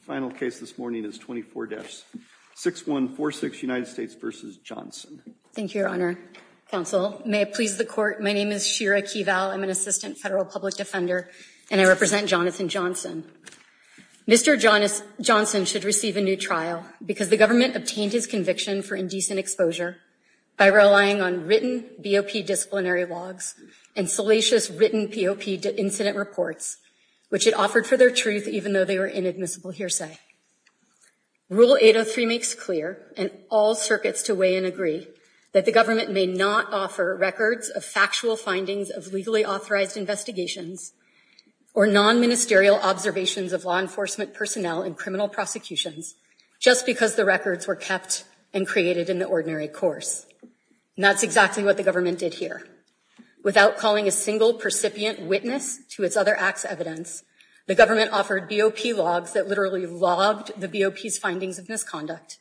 Final case this morning is 24-6146 United States v. Johnson Thank you, Your Honor. Counsel, may it please the Court, my name is Shira Keeval. I'm an assistant federal public defender and I represent Jonathan Johnson. Mr. Johnson should receive a new trial because the government obtained his conviction for indecent exposure by relying on written BOP disciplinary logs and salacious written POP incident reports, which it offered for their truth even though they were inadmissible hearsay. Rule 803 makes clear, and all circuits to weigh in agree, that the government may not offer records of factual findings of legally authorized investigations or non-ministerial observations of law enforcement personnel in criminal prosecutions just because the records were kept and created in the ordinary course. That's exactly what the government did here. Without calling a single percipient witness to its other acts of evidence, the government offered BOP logs that literally logged the BOP's findings of misconduct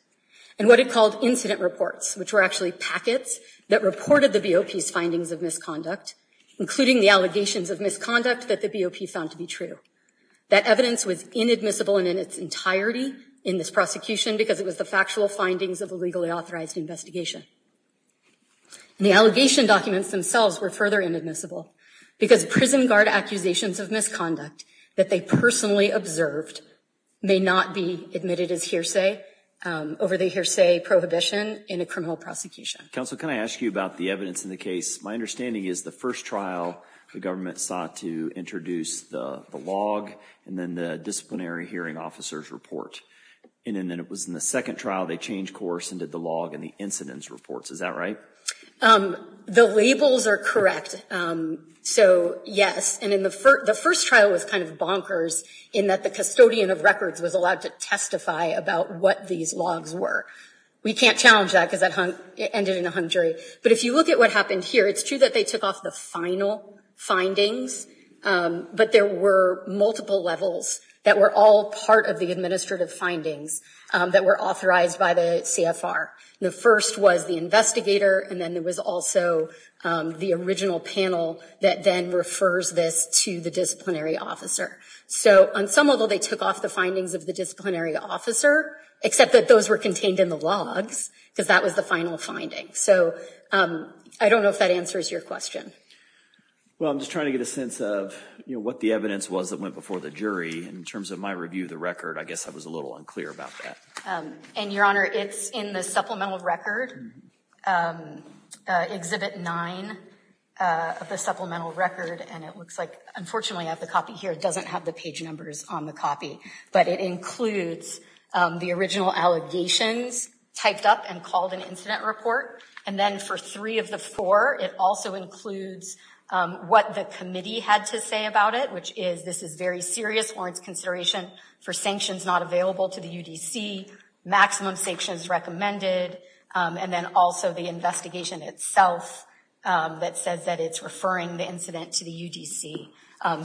and what it called incident reports, which were actually packets that reported the BOP's findings of misconduct, including the allegations of misconduct that the BOP found to be true. That evidence was inadmissible and in its entirety in this prosecution because it was the factual findings of a legally authorized investigation. And the allegation documents themselves were further inadmissible because prison guard accusations of misconduct that they personally observed may not be admitted as hearsay over the hearsay prohibition in a criminal prosecution. Counsel, can I ask you about the evidence in the case? My understanding is the first trial the government sought to introduce the log and then the disciplinary hearing officers report, and then it was in the second trial they changed course and did the log and the incidence reports. Is that right? The labels are correct. So, yes. And in the first, the first trial was kind of bonkers in that the custodian of records was allowed to testify about what these logs were. We can't challenge that because that hung, it ended in a hung jury. But if you look at what happened here, it's true that they took off the final findings, but there were multiple levels that were all part of the administrative findings that were authorized by the CFR. The first was the investigator, and then there was also the original panel that then refers this to the disciplinary officer. So, on some level, they took off the findings of the disciplinary officer, except that those were contained in the logs because that was the final finding. So, I don't know if that answers your question. Well, I'm just trying to get a sense of, you know, what the evidence was that went before the jury. In terms of my review of the record, I guess I was a little unclear about that. And, Your Honor, it's in the supplemental record, Exhibit 9 of the supplemental record, and it looks like, unfortunately, I have the copy here. It doesn't have the page numbers on the copy, but it includes the original allegations typed up and called an incident report. And then for three of the four, it also includes what the committee had to say about it, which is this is very serious warrants consideration for sanctions not available to the UDC, maximum sanctions recommended, and then also the investigation itself that says that it's referring the incident to the UDC.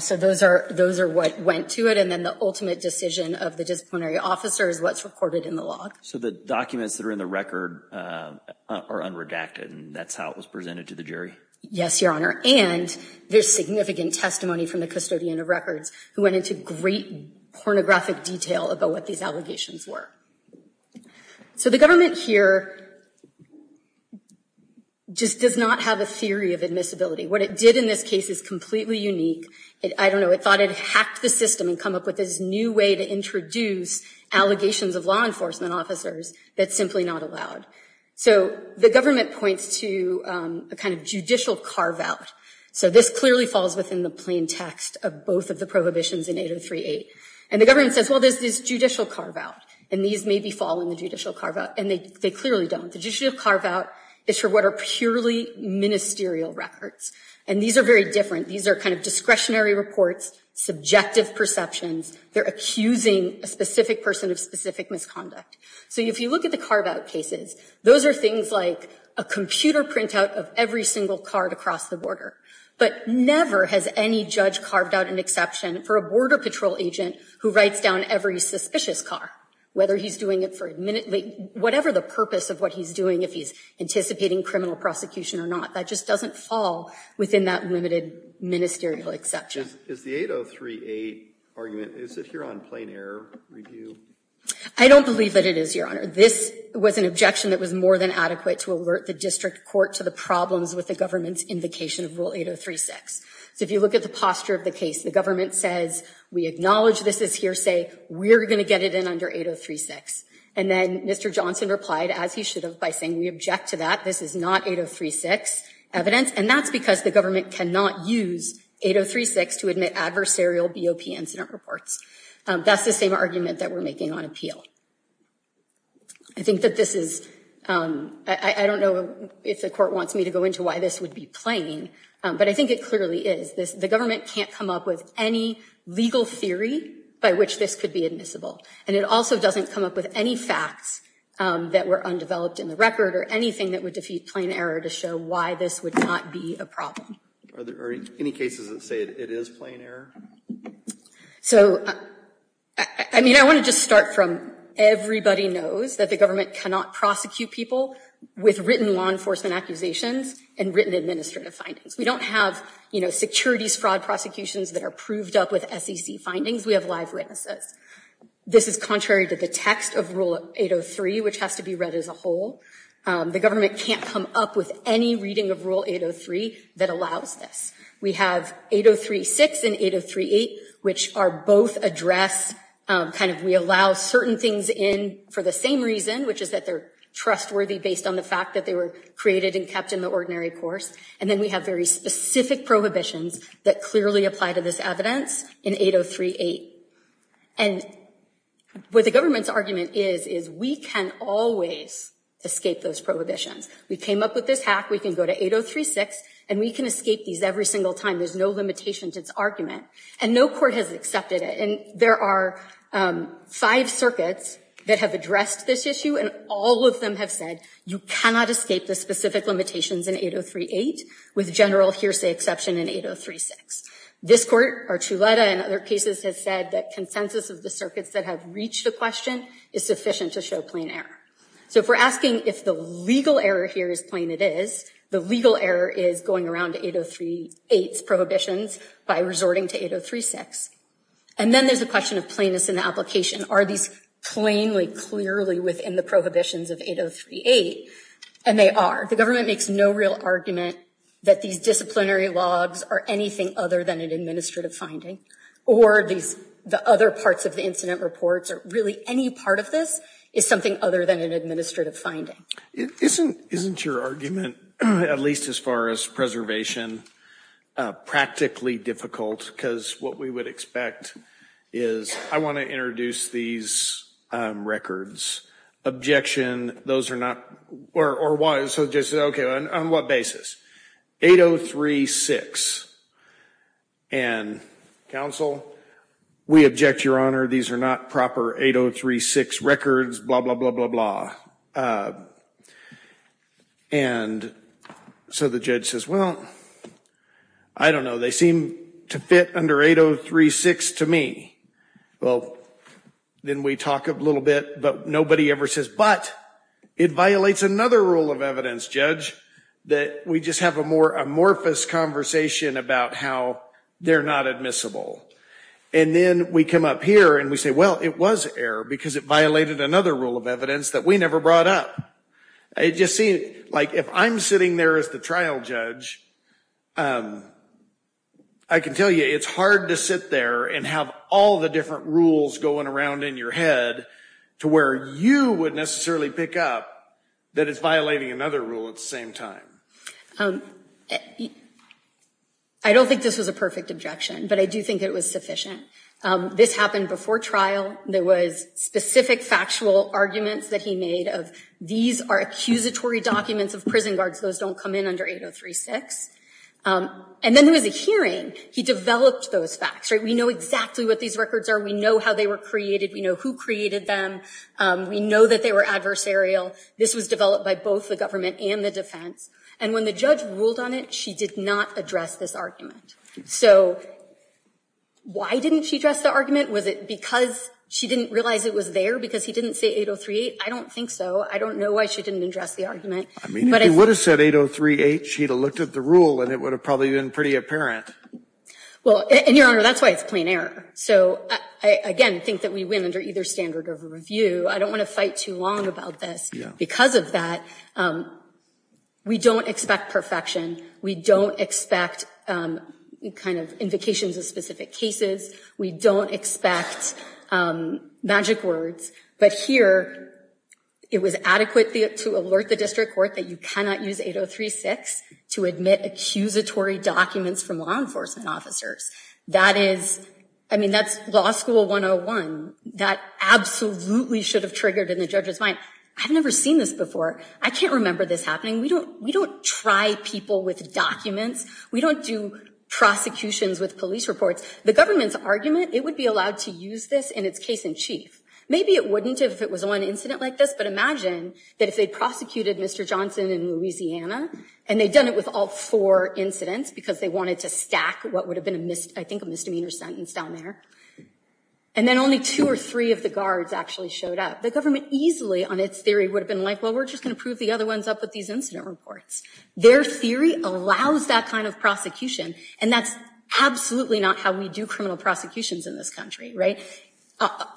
So, those are what went to it, and then the ultimate decision of the disciplinary officer is what's recorded in the log. So, the documents that are in the record are unredacted, and that's how it was presented to the jury? Yes, Your Honor, and there's significant testimony from the custodian of records who went into great pornographic detail about what these allegations were. So, the government here just does not have a theory of admissibility. What it did in this case is completely unique. I don't know, it thought it hacked the system and come up with this new way to introduce allegations of law enforcement officers that's simply not allowed. So, the government points to a kind of judicial carve-out. So, this clearly falls within the plain text of both of the prohibitions in 803-8, and the government says, well, there's this judicial carve-out, and these maybe fall in the judicial carve-out, and they clearly don't. The judicial carve-out is for what are purely ministerial records, and these are very different. These are kind of discretionary reports, subjective perceptions. They're accusing a specific person of specific misconduct. So, if you look at the carve-out cases, those are things like a computer printout of every single car to cross the border, but never has any judge carved out an exception for a border patrol agent who writes down every suspicious car, whether he's doing it for whatever the purpose of what he's doing, if he's anticipating criminal prosecution or not. That just doesn't fall within that limited ministerial exception. Is the 803-8 argument, is it here on plain error review? I don't believe that it is, Your Honor. This was an objection that was more than adequate to alert the district court to the problems with the government's invocation of Rule 803-6. So, if you look at the posture of the case, the government says, we acknowledge this is hearsay, we're going to get it in under 803-6. And then Mr. Johnson replied, as he should have, by saying, we object to that, this is not 803-6 evidence, and that's because the government cannot use 803-6 to admit adversarial BOP incident reports. That's the same argument that we're making on appeal. I think that this is, I don't know if the court wants me to go into why this would be plain, but I think it clearly is. The government can't come up with any legal theory by which this could be admissible. And it also doesn't come up with any facts that were undeveloped in the record or anything that would defeat plain error to show why this would not be a problem. Are there any cases that say it is plain error? So, I mean, I want to just start from everybody knows that the government cannot prosecute people with written law enforcement accusations and written administrative findings. We don't have, you know, securities fraud prosecutions that are proved up with SEC findings. We have live witnesses. This is contrary to the text of Rule 803, which has to be read as whole. The government can't come up with any reading of Rule 803 that allows this. We have 803-6 and 803-8, which are both address, kind of, we allow certain things in for the same reason, which is that they're trustworthy based on the fact that they were created and kept in the ordinary course. And then we have very specific prohibitions that clearly apply to this evidence in 803-8. And what the government's argument is, is we can always escape those prohibitions. We came up with this hack. We can go to 803-6 and we can escape these every single time. There's no limitation to its argument. And no court has accepted it. And there are five circuits that have addressed this issue and all of them have said you cannot escape the specific limitations in 803-8 with general hearsay exception in 803-6. This court, Archuleta and other cases, has said that consensus of the circuits that have reached the question is sufficient to show plain error. So if we're asking if the legal error here is plain, it is. The legal error is going around 803-8's prohibitions by resorting to 803-6. And then there's a question of plainness in the application. Are these plainly, clearly within the prohibitions of 803-8? And they are. The real argument that these disciplinary logs are anything other than an administrative finding, or the other parts of the incident reports, or really any part of this, is something other than an administrative finding. Isn't your argument, at least as far as preservation, practically difficult? Because what we would expect is, I want to introduce these records. Objection, those are not, or why, so just, okay, on what basis? 803-6. And counsel, we object, your honor, these are not proper 803-6 records, blah, blah, blah, blah, blah. And so the judge says, well, I don't know, they seem to fit under 803-6 to me. Well, then we talk a little bit, but nobody ever says, but it violates another rule of evidence, judge, that we just have a more amorphous conversation about how they're not admissible. And then we come up here and we say, well, it was error, because it violated another rule of evidence that we never brought up. It just seemed like, if I'm sitting there as the trial judge, I can tell you it's hard to sit there and have all the different rules going around in your head to where you would necessarily pick up that it's violating another rule at the same time. I don't think this was a perfect objection, but I do think it was sufficient. This happened before trial. There was specific factual arguments that he made of, these are accusatory documents of prison guards, those don't come in under 803-6. And then there was a hearing. He developed those facts. We know exactly what these records are. We know how they were created. We know who created them. We know that they were adversarial. This was developed by both the government and the defense. And when the judge ruled on it, she did not address this argument. So why didn't she address the argument? Was it because she didn't realize it was there, because he didn't say 803-8? I don't think so. I don't know why she didn't address the argument. I mean, if he would have said 803-8, she'd have looked at the rule and it would have probably been pretty apparent. Well, and Your Honor, that's why it's plain error. So I, again, think that we win under either standard of review. I don't want to fight too long about this. Because of that, we don't expect perfection. We don't expect kind of to alert the district court that you cannot use 803-6 to admit accusatory documents from law enforcement officers. That is, I mean, that's law school 101. That absolutely should have triggered in the judge's mind. I've never seen this before. I can't remember this happening. We don't try people with documents. We don't do prosecutions with police reports. The government's argument, it would be allowed to use this in its case in chief. Maybe it wouldn't if it was one incident like this, but imagine that if they prosecuted Mr. Johnson in Louisiana and they'd done it with all four incidents because they wanted to stack what would have been, I think, a misdemeanor sentence down there. And then only two or three of the guards actually showed up. The government easily, on its theory, would have been like, well, we're just going to prove the other ones up with these incident reports. Their theory allows that kind of prosecution. And that's absolutely not we do criminal prosecutions in this country, right?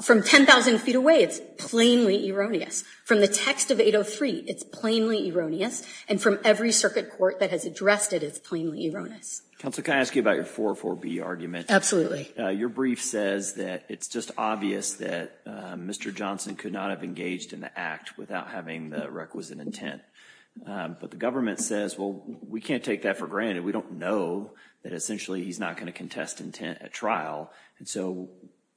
From 10,000 feet away, it's plainly erroneous. From the text of 803, it's plainly erroneous. And from every circuit court that has addressed it, it's plainly erroneous. Counsel, can I ask you about your 404B argument? Absolutely. Your brief says that it's just obvious that Mr. Johnson could not have engaged in the act without having the requisite intent. But the government says, well, we can't take that for granted. We don't know that essentially he's not going to contest intent at trial. And so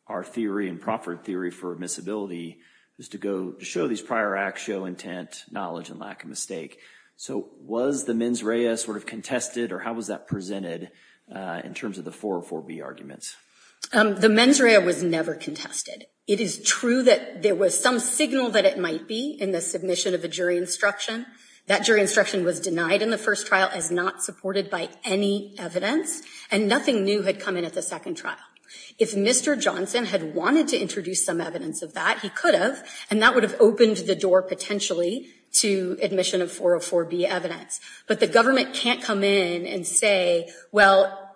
our theory and Crawford theory for admissibility was to go show these prior acts, show intent, knowledge, and lack of mistake. So was the mens rea sort of contested or how was that presented in terms of the 404B arguments? The mens rea was never contested. It is true that there was some signal that it might be in the submission of a jury instruction. That jury instruction was denied in the first trial as not supported by any evidence. And nothing new had come in at the second trial. If Mr. Johnson had wanted to introduce some evidence of that, he could have. And that would have opened the door potentially to admission of 404B evidence. But the government can't come in and say, well,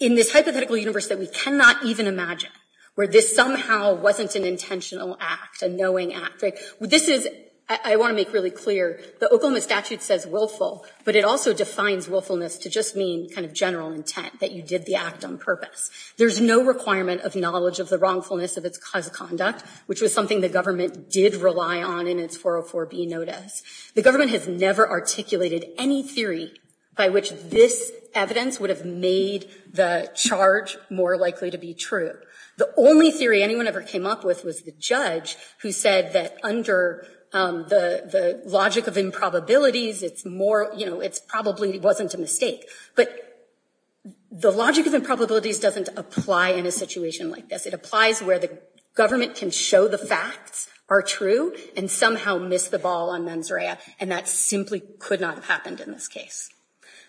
in this hypothetical universe that we cannot even imagine, where this somehow wasn't an intentional act, a knowing act. This is, I want to make really clear, the Oklahoma statute says willful, but it also defines willfulness to just mean kind of general intent, that you did the act on purpose. There's no requirement of knowledge of the wrongfulness of its cause of conduct, which was something the government did rely on in its 404B notice. The government has never articulated any theory by which this evidence would have made the charge more likely to be true. The only theory anyone ever came up with was the judge who said that under the logic of improbabilities, it probably wasn't a mistake. But the logic of improbabilities doesn't apply in a situation like this. It applies where the government can show the facts are true and somehow miss the ball on mens rea. And that simply could not have happened in this case.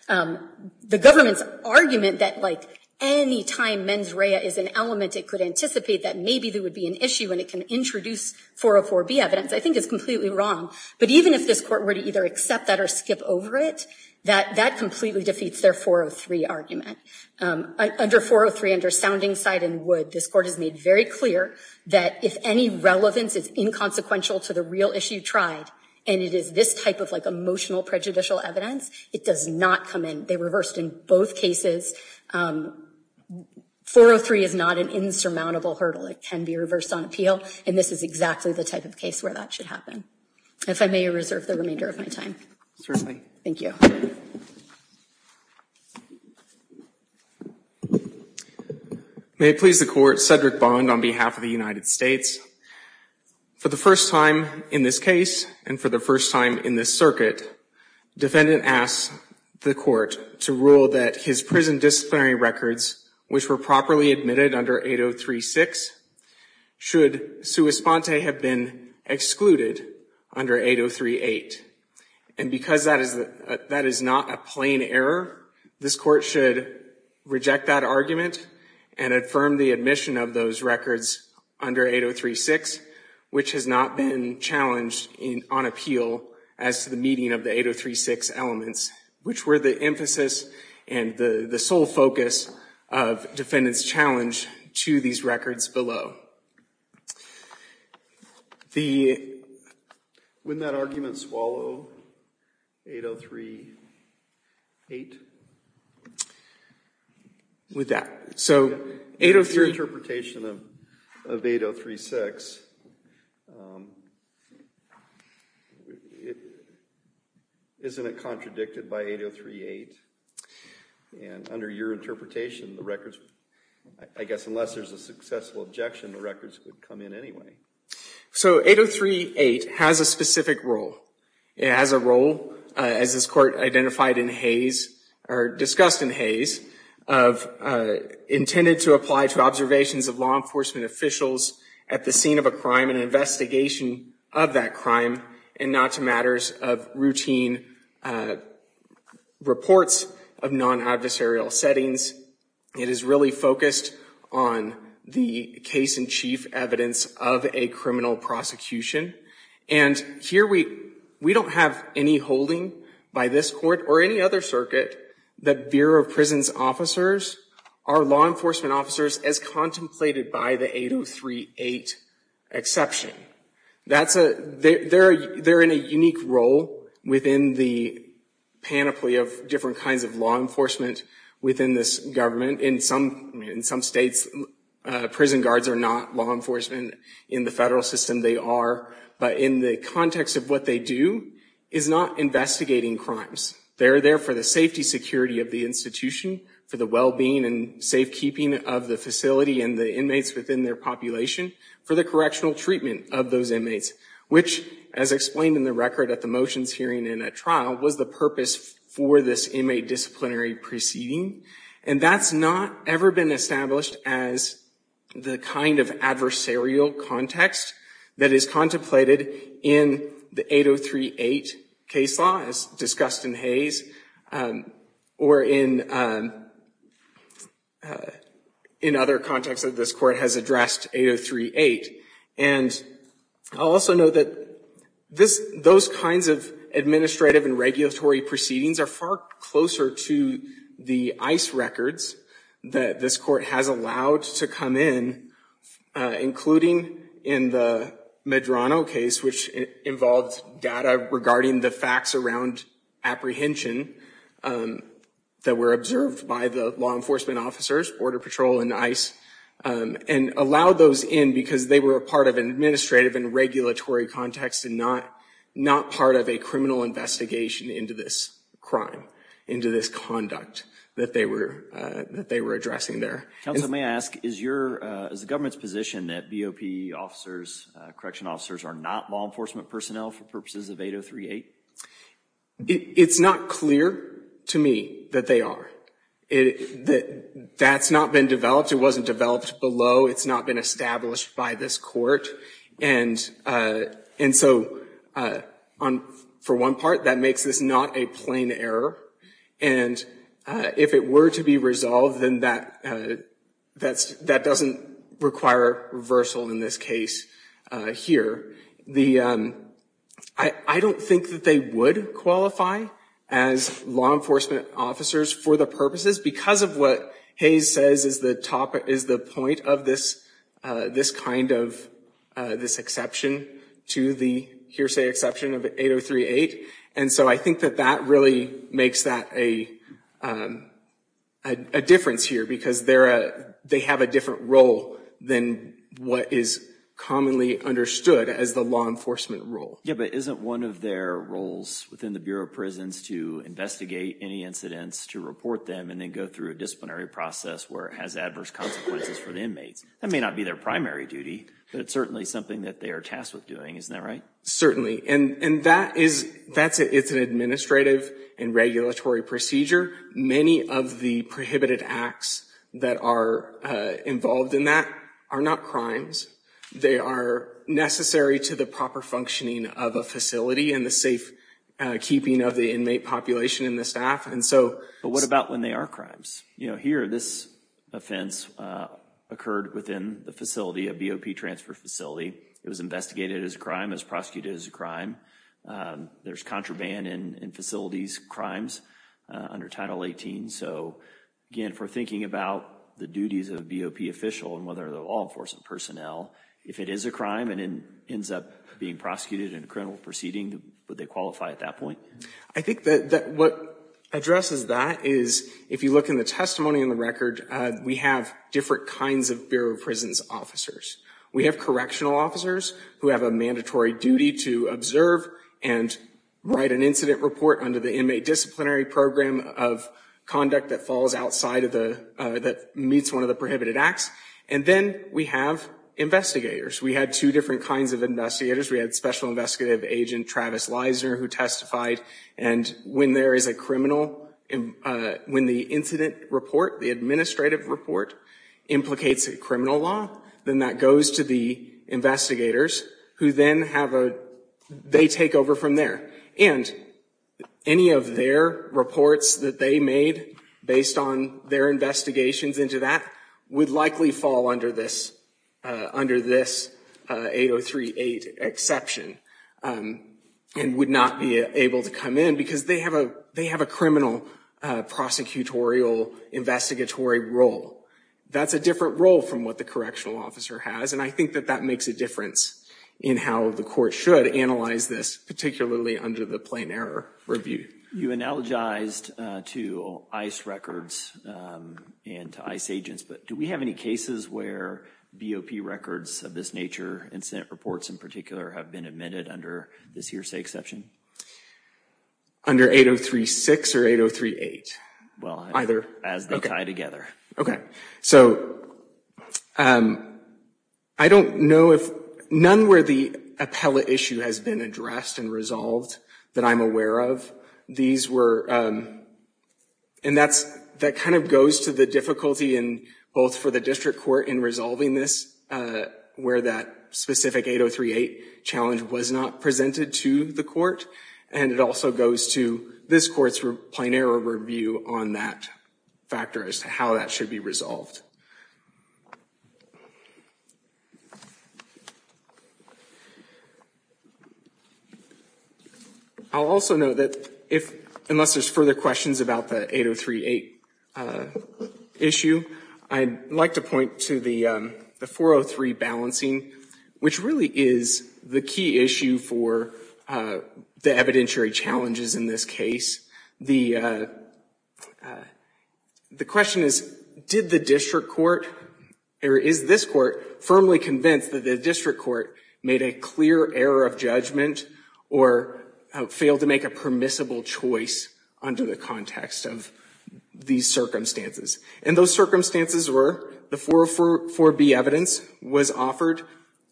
The government's argument that like any time mens rea is an element, it could anticipate that maybe there would be an issue and it can introduce 404B evidence, I think is completely wrong. But even if this court were to either accept that or skip over it, that completely defeats their 403 argument. Under 403, under sounding side and would, this court has made very clear that if any relevance is inconsequential to the real issue tried, and it is this type of like emotional prejudicial evidence, it does not come in. They reversed in both cases. 403 is not an insurmountable hurdle. It can be reversed on appeal, and this is exactly the type of case where that should happen. If I may reserve the remainder of my time. Certainly. Thank you. May it please the court, Cedric Bond on behalf of the United States. For the first time in this case and for the first time in this circuit, defendant asks the court to rule that his prison disciplinary records, which were properly admitted under 803-6, should sua sponte have been excluded under 803-8. And because that is not a plain error, this court should reject that argument and affirm the admission of those records under 803-6, which has not been challenged on appeal as to the meeting of the 803-6 elements, which were the emphasis and the sole focus of defendant's challenge to these records below. Wouldn't that argument swallow 803-8? With that, so 803— Under your interpretation of 803-6, isn't it contradicted by 803-8? And under your interpretation, the records, I guess unless there's a successful objection, the records would come in anyway. So 803-8 has a specific role. It has a role, as this court identified in Hayes, or discussed in Hayes, of intended to apply to observations of law enforcement officials at the scene of a crime, an investigation of that crime, and not to matters of routine reports of non-adversarial settings. It is really focused on the case-in-chief evidence of a criminal prosecution. And here we don't have any holding by this court or any other circuit that Bureau of Prisons officers are law enforcement officers as contemplated by the 803-8 exception. That's a—they're in a unique role within the panoply of different kinds of law enforcement within this government. In some states, prison guards are not law enforcement. In the federal system, they are. But in the context of what they do is not investigating crimes. They're there for the safety security of the institution, for the well-being and safekeeping of the facility and the inmates within their population, for the correctional treatment of those inmates, which, as explained in the record at the motions hearing in a trial, was the purpose for this inmate disciplinary proceeding. And that's not ever been established as the kind of adversarial context that is contemplated in the 803-8 case law, as discussed in Hayes or in other contexts that this court has addressed 803-8. And I also know that those kinds of administrative and regulatory proceedings are far closer to the ICE records that this court has allowed to come in, including in the Medrano case, which involved data regarding the facts around apprehension that were observed by the law enforcement officers, Border Patrol and ICE, and allowed those in because they were a part of an administrative and regulatory context and not part of a criminal investigation into this crime, into this conduct that they were addressing there. Counsel, may I ask, is the government's position that BOP officers, correction officers, are not law enforcement personnel for purposes of 803-8? It's not clear to me that they are. That's not been developed. It wasn't developed below. It's not been established by this court. And so, for one part, that makes this not a plain error. And if it were to be resolved, then that doesn't require reversal in this case here. I don't think that they would qualify as law enforcement officers for the purposes because of what Hayes says is the point of this kind of, this exception to the hearsay exception of 803-8. And so, I think that that really makes that a difference here because they have a different role than what is commonly understood as the law enforcement role. Yeah, but isn't one of their roles within the Bureau of Prisons to investigate any incidents, to report them, and then go through a disciplinary process where it has adverse consequences for the inmates? That may not be their primary duty, but it's certainly something that they are tasked with doing. Isn't that right? Certainly. And that is, that's it. It's an administrative and regulatory procedure. Many of the prohibited acts that are involved in that are not crimes. They are necessary to the proper functioning of a facility and the safe keeping of the inmate population and the staff. But what about when they are crimes? You know, here, this offense occurred within the facility, a BOP transfer facility. It was investigated as a crime, as prosecuted as a crime. There's contraband in facilities, crimes under Title 18. So, again, if we're thinking about the duties of a BOP official and whether they're law enforcement personnel, if it is a crime and ends up being prosecuted in a criminal proceeding, would they qualify at that point? I think that what addresses that is, if you look in the testimony in the record, we have different kinds of Bureau of Prisons officers. We have correctional officers who have a mandatory duty to observe and write an incident report under the inmate disciplinary program of conduct that falls outside of the, that meets one of the prohibited acts. And then we have investigators. We had two different kinds of investigators. We had Special Investigative Agent Travis Leisner, who testified. And when there is a criminal, and when the incident report, the administrative report implicates a criminal law, then that goes to the investigators, who then have a, they take over from there. And any of their reports that they made based on their investigations into that would likely fall under this, under this 8038 exception and would not be able to come in because they have a, they have a criminal prosecutorial investigatory role. That's a different role from what the correctional officer has. And I think that that makes a difference in how the court should analyze this, particularly under the plain error review. You analogized to ICE records and to ICE agents, but do we have any cases where BOP records of this nature, incident reports in particular, have been admitted under this hearsay exception? Under 8036 or 8038? Well, either. As they tie together. Okay. So I don't know if, none where the appellate issue has been addressed and resolved that I'm aware of. These were, and that's, that kind of goes to the difficulty in both for the district court in resolving this, where that specific 8038 challenge was not presented to the court. And it also goes to this court's plain error review on that factor as to how that should be resolved. I'll also note that if, unless there's further questions about the 8038 issue, I'd like to point to the 403 balancing, which really is the key issue for the evidentiary challenges in this case. The question is, did the district court, or is this court firmly convinced that the district court made a clear error of judgment or failed to make a permissible choice under the context of these circumstances? And those circumstances were, the 404B evidence was offered,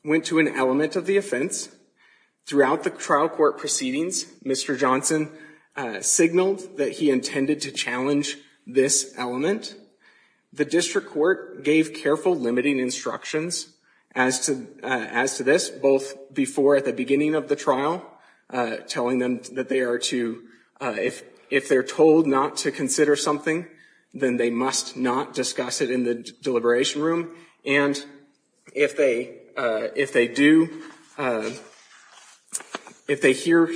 went to an element of the offense. Throughout the trial court proceedings, Mr. Johnson signaled that he intended to challenge this element. The district court gave careful limiting instructions as to this, both before at the beginning of the trial, telling them that they are to, if they're told not to consider something, then they must not discuss it in the deliberation room. And if they do, if they hear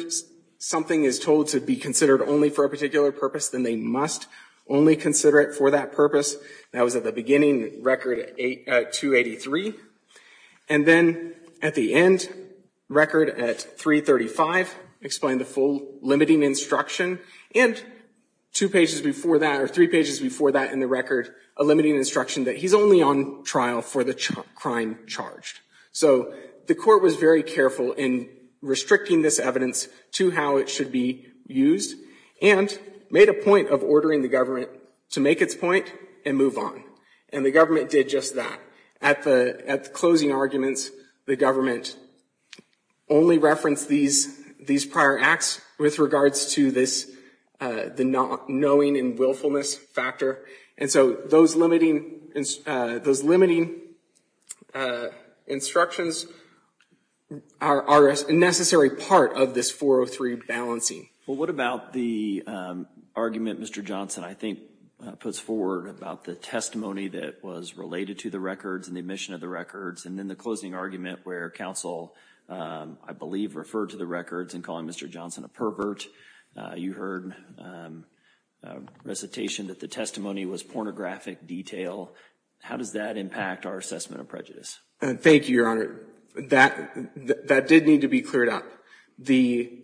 something is told to be considered only for a particular purpose, then they must only consider it for that purpose. That was at the beginning, record 283. And then at the end, record at 335, explained the full limiting instruction. And two pages before that, or three pages before that in the record, a limiting instruction that he's only on trial for the crime charged. So the court was very careful in restricting this evidence to how it should be used and made a point of ordering the government to make its point and move on. And the government did just that. At the closing arguments, the government only referenced these prior acts with regards to this, the knowing and willfulness factor. And so those limiting instructions are a necessary part of this 403 balancing. Well, what about the argument Mr. Johnson, I think, puts forward about the testimony that was related to the records and the omission of the records? And then the closing argument where counsel, I believe, referred to the records in calling Mr. Johnson a pervert. You heard recitation that the testimony was pornographic detail. How does that impact our assessment of prejudice? Thank you, Your Honor. That did need to be cleared up. The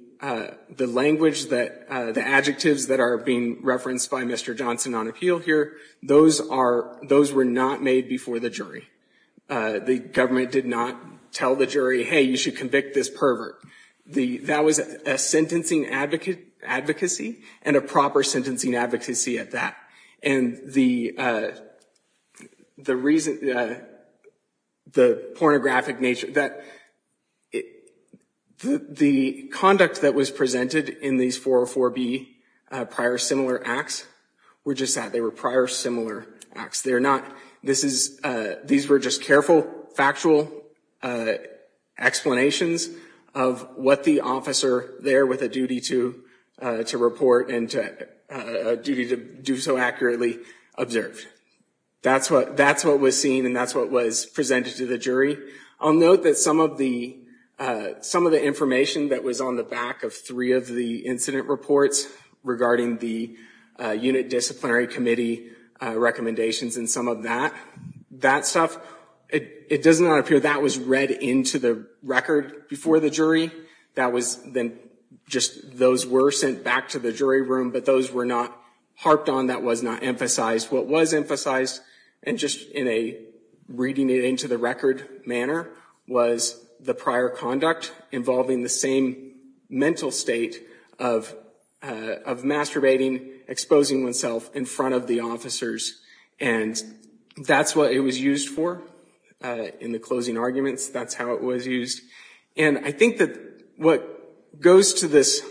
language that, the adjectives that are being referenced by Mr. Johnson on appeal here, those are, those were not made before the jury. The government did not tell the jury, hey, you should convict this pervert. That was a sentencing advocacy and a proper sentencing advocacy at that. And the reason, the pornographic nature, the conduct that was presented in these 404B prior similar acts were just that. They were prior similar acts. They're not, this is, these were just careful, factual explanations of what the officer there with a duty to report and a duty to do so accurately observed. That's what was seen and that's what was presented to the jury. I'll note that some of the information that was on the back of three of the incident reports regarding the unit disciplinary committee recommendations and some of that, that stuff, it does not appear that was read into the record before the jury. That was then just, those were sent back to the jury room, but those were not harped on. That was not emphasized. What was emphasized and just in a reading it into the record manner was the prior conduct involving the same mental state of masturbating, exposing oneself in front of the officers. And that's what it was used for in the closing arguments. That's how it was used. And I think that what goes to this,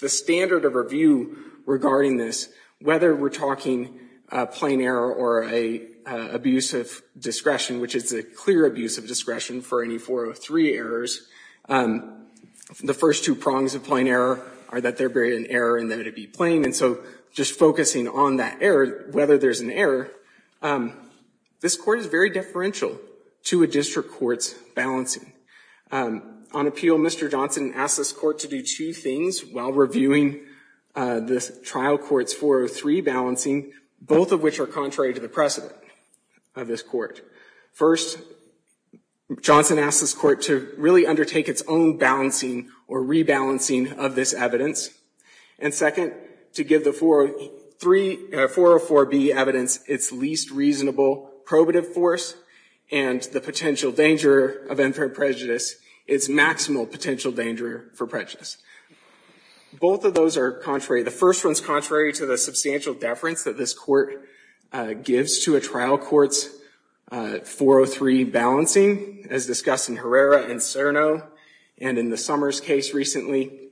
the standard of review regarding this, whether we're talking plain error or an abusive discretion, which is a clear abusive discretion for any 403 errors, the first two prongs of plain error are that there'd be an error and that it'd be plain. And so just focusing on that error, whether there's an error, this court is very differential to a district court's balancing. On appeal, Mr. Johnson asked this court to do two things while reviewing the trial court's 403 balancing, both of which are contrary to the precedent of this court. First, Johnson asked this court to really undertake its own balancing or rebalancing of this evidence. And second, to give the 404B evidence its least reasonable probative force and the potential danger of unfair prejudice, its maximal potential danger for prejudice. Both of those are contrary. The first one's contrary to the substantial deference that this court gives to a trial court's 403 balancing, as discussed in Herrera and Cerno and in the Summers case recently.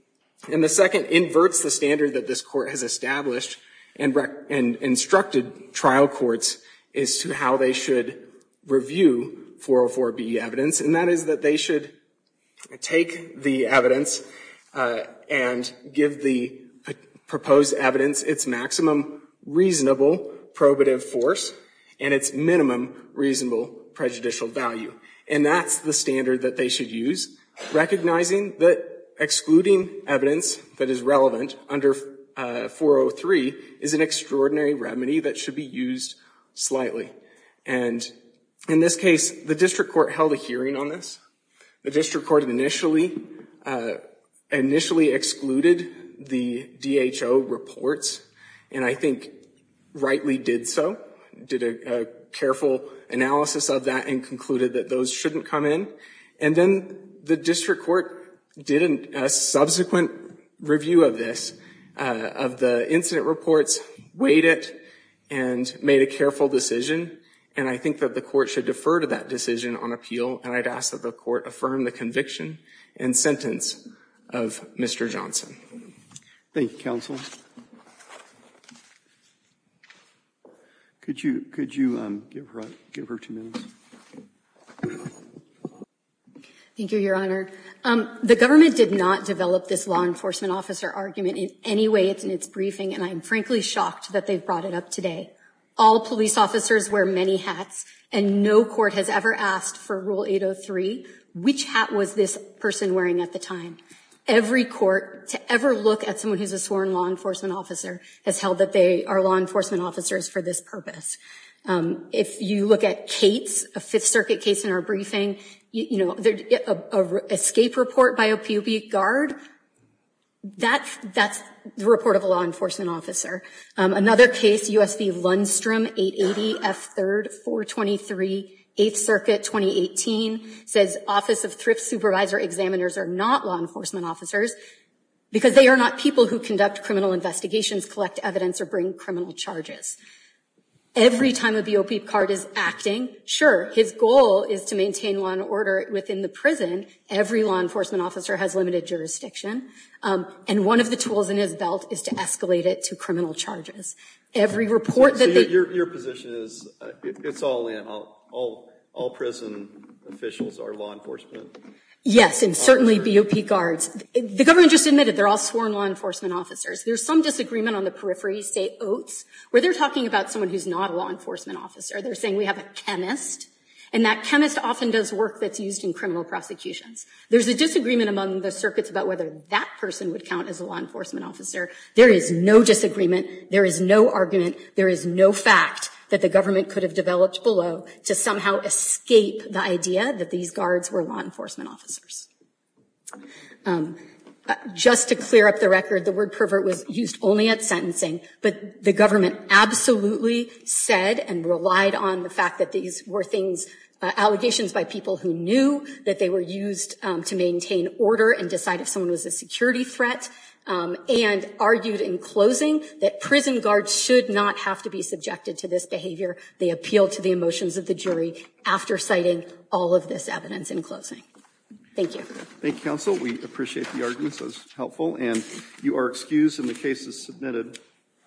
And the second inverts the standard that this court has established and instructed trial courts as to how they should review 404B evidence, and that is that they should take the evidence and give the proposed evidence its maximum reasonable probative force and its minimum reasonable prejudicial value. And that's the standard that they should use, recognizing that excluding evidence that is relevant under 403 is an extraordinary remedy that should be used slightly. And in this case, the district court held a hearing on this. The district court initially excluded the DHO reports, and I think rightly did so, did a careful analysis of that and concluded that those shouldn't come in. And then the district court did a subsequent review of this, of the incident reports, weighed it, and made a careful decision. And I think that the court should defer to that decision on appeal, and I'd ask that the court affirm the conviction and sentence of Mr. Johnson. Thank you, counsel. Could you give her two minutes? Thank you, your honor. The government did not develop this law enforcement officer argument in any way in its briefing, and I'm frankly shocked that they've brought it up today. All police officers wear many hats, and no court has ever asked for Rule 803, which hat was this person wearing at the time. Every court, to ever look at someone who's a sworn law enforcement officer, has held that they are law enforcement officers for this purpose. If you look at Cates, a Fifth Circuit case in our briefing, you know, there's an escape report by a POB guard. That's the report of a law enforcement officer. Another case, U.S. v. Lundstrom, 880 F. 3rd, 423, 8th Circuit, 2018, says Office of Thrift Supervisor Examiners are not law enforcement officers because they are not people who conduct criminal investigations, collect evidence, or bring criminal charges. Every time a POB guard is acting, sure, his goal is to maintain law and order within the prison. Every law enforcement officer has limited jurisdiction, and one of the tools in his belt is to escalate it to criminal charges. Every report that they... So your position is, it's all in, all prison officials are law enforcement? Yes, and certainly BOP guards. The government just admitted they're all sworn law enforcement officers. There's some disagreement on the periphery, say Oates, where they're talking about someone who's not a law enforcement officer. They're saying we have a chemist, and that chemist often does work that's used in criminal prosecutions. There's a disagreement among the circuits about whether that person would count as a law enforcement officer. There is no disagreement. There is no argument. There is no fact that the government could have developed below to somehow escape the idea that these guards were law enforcement officers. Just to clear up the record, the word pervert was used only at sentencing, but the government absolutely said and relied on the fact that these were things, allegations by people who knew that they were used to maintain order and decide if someone was a security threat, and argued in closing that prison guards should not have to be subjected to this behavior. They appealed to the emotions of the jury after citing all of this evidence in closing. Thank you. Thank you, counsel. We appreciate the arguments. That was helpful, and you are excused, and the case is submitted.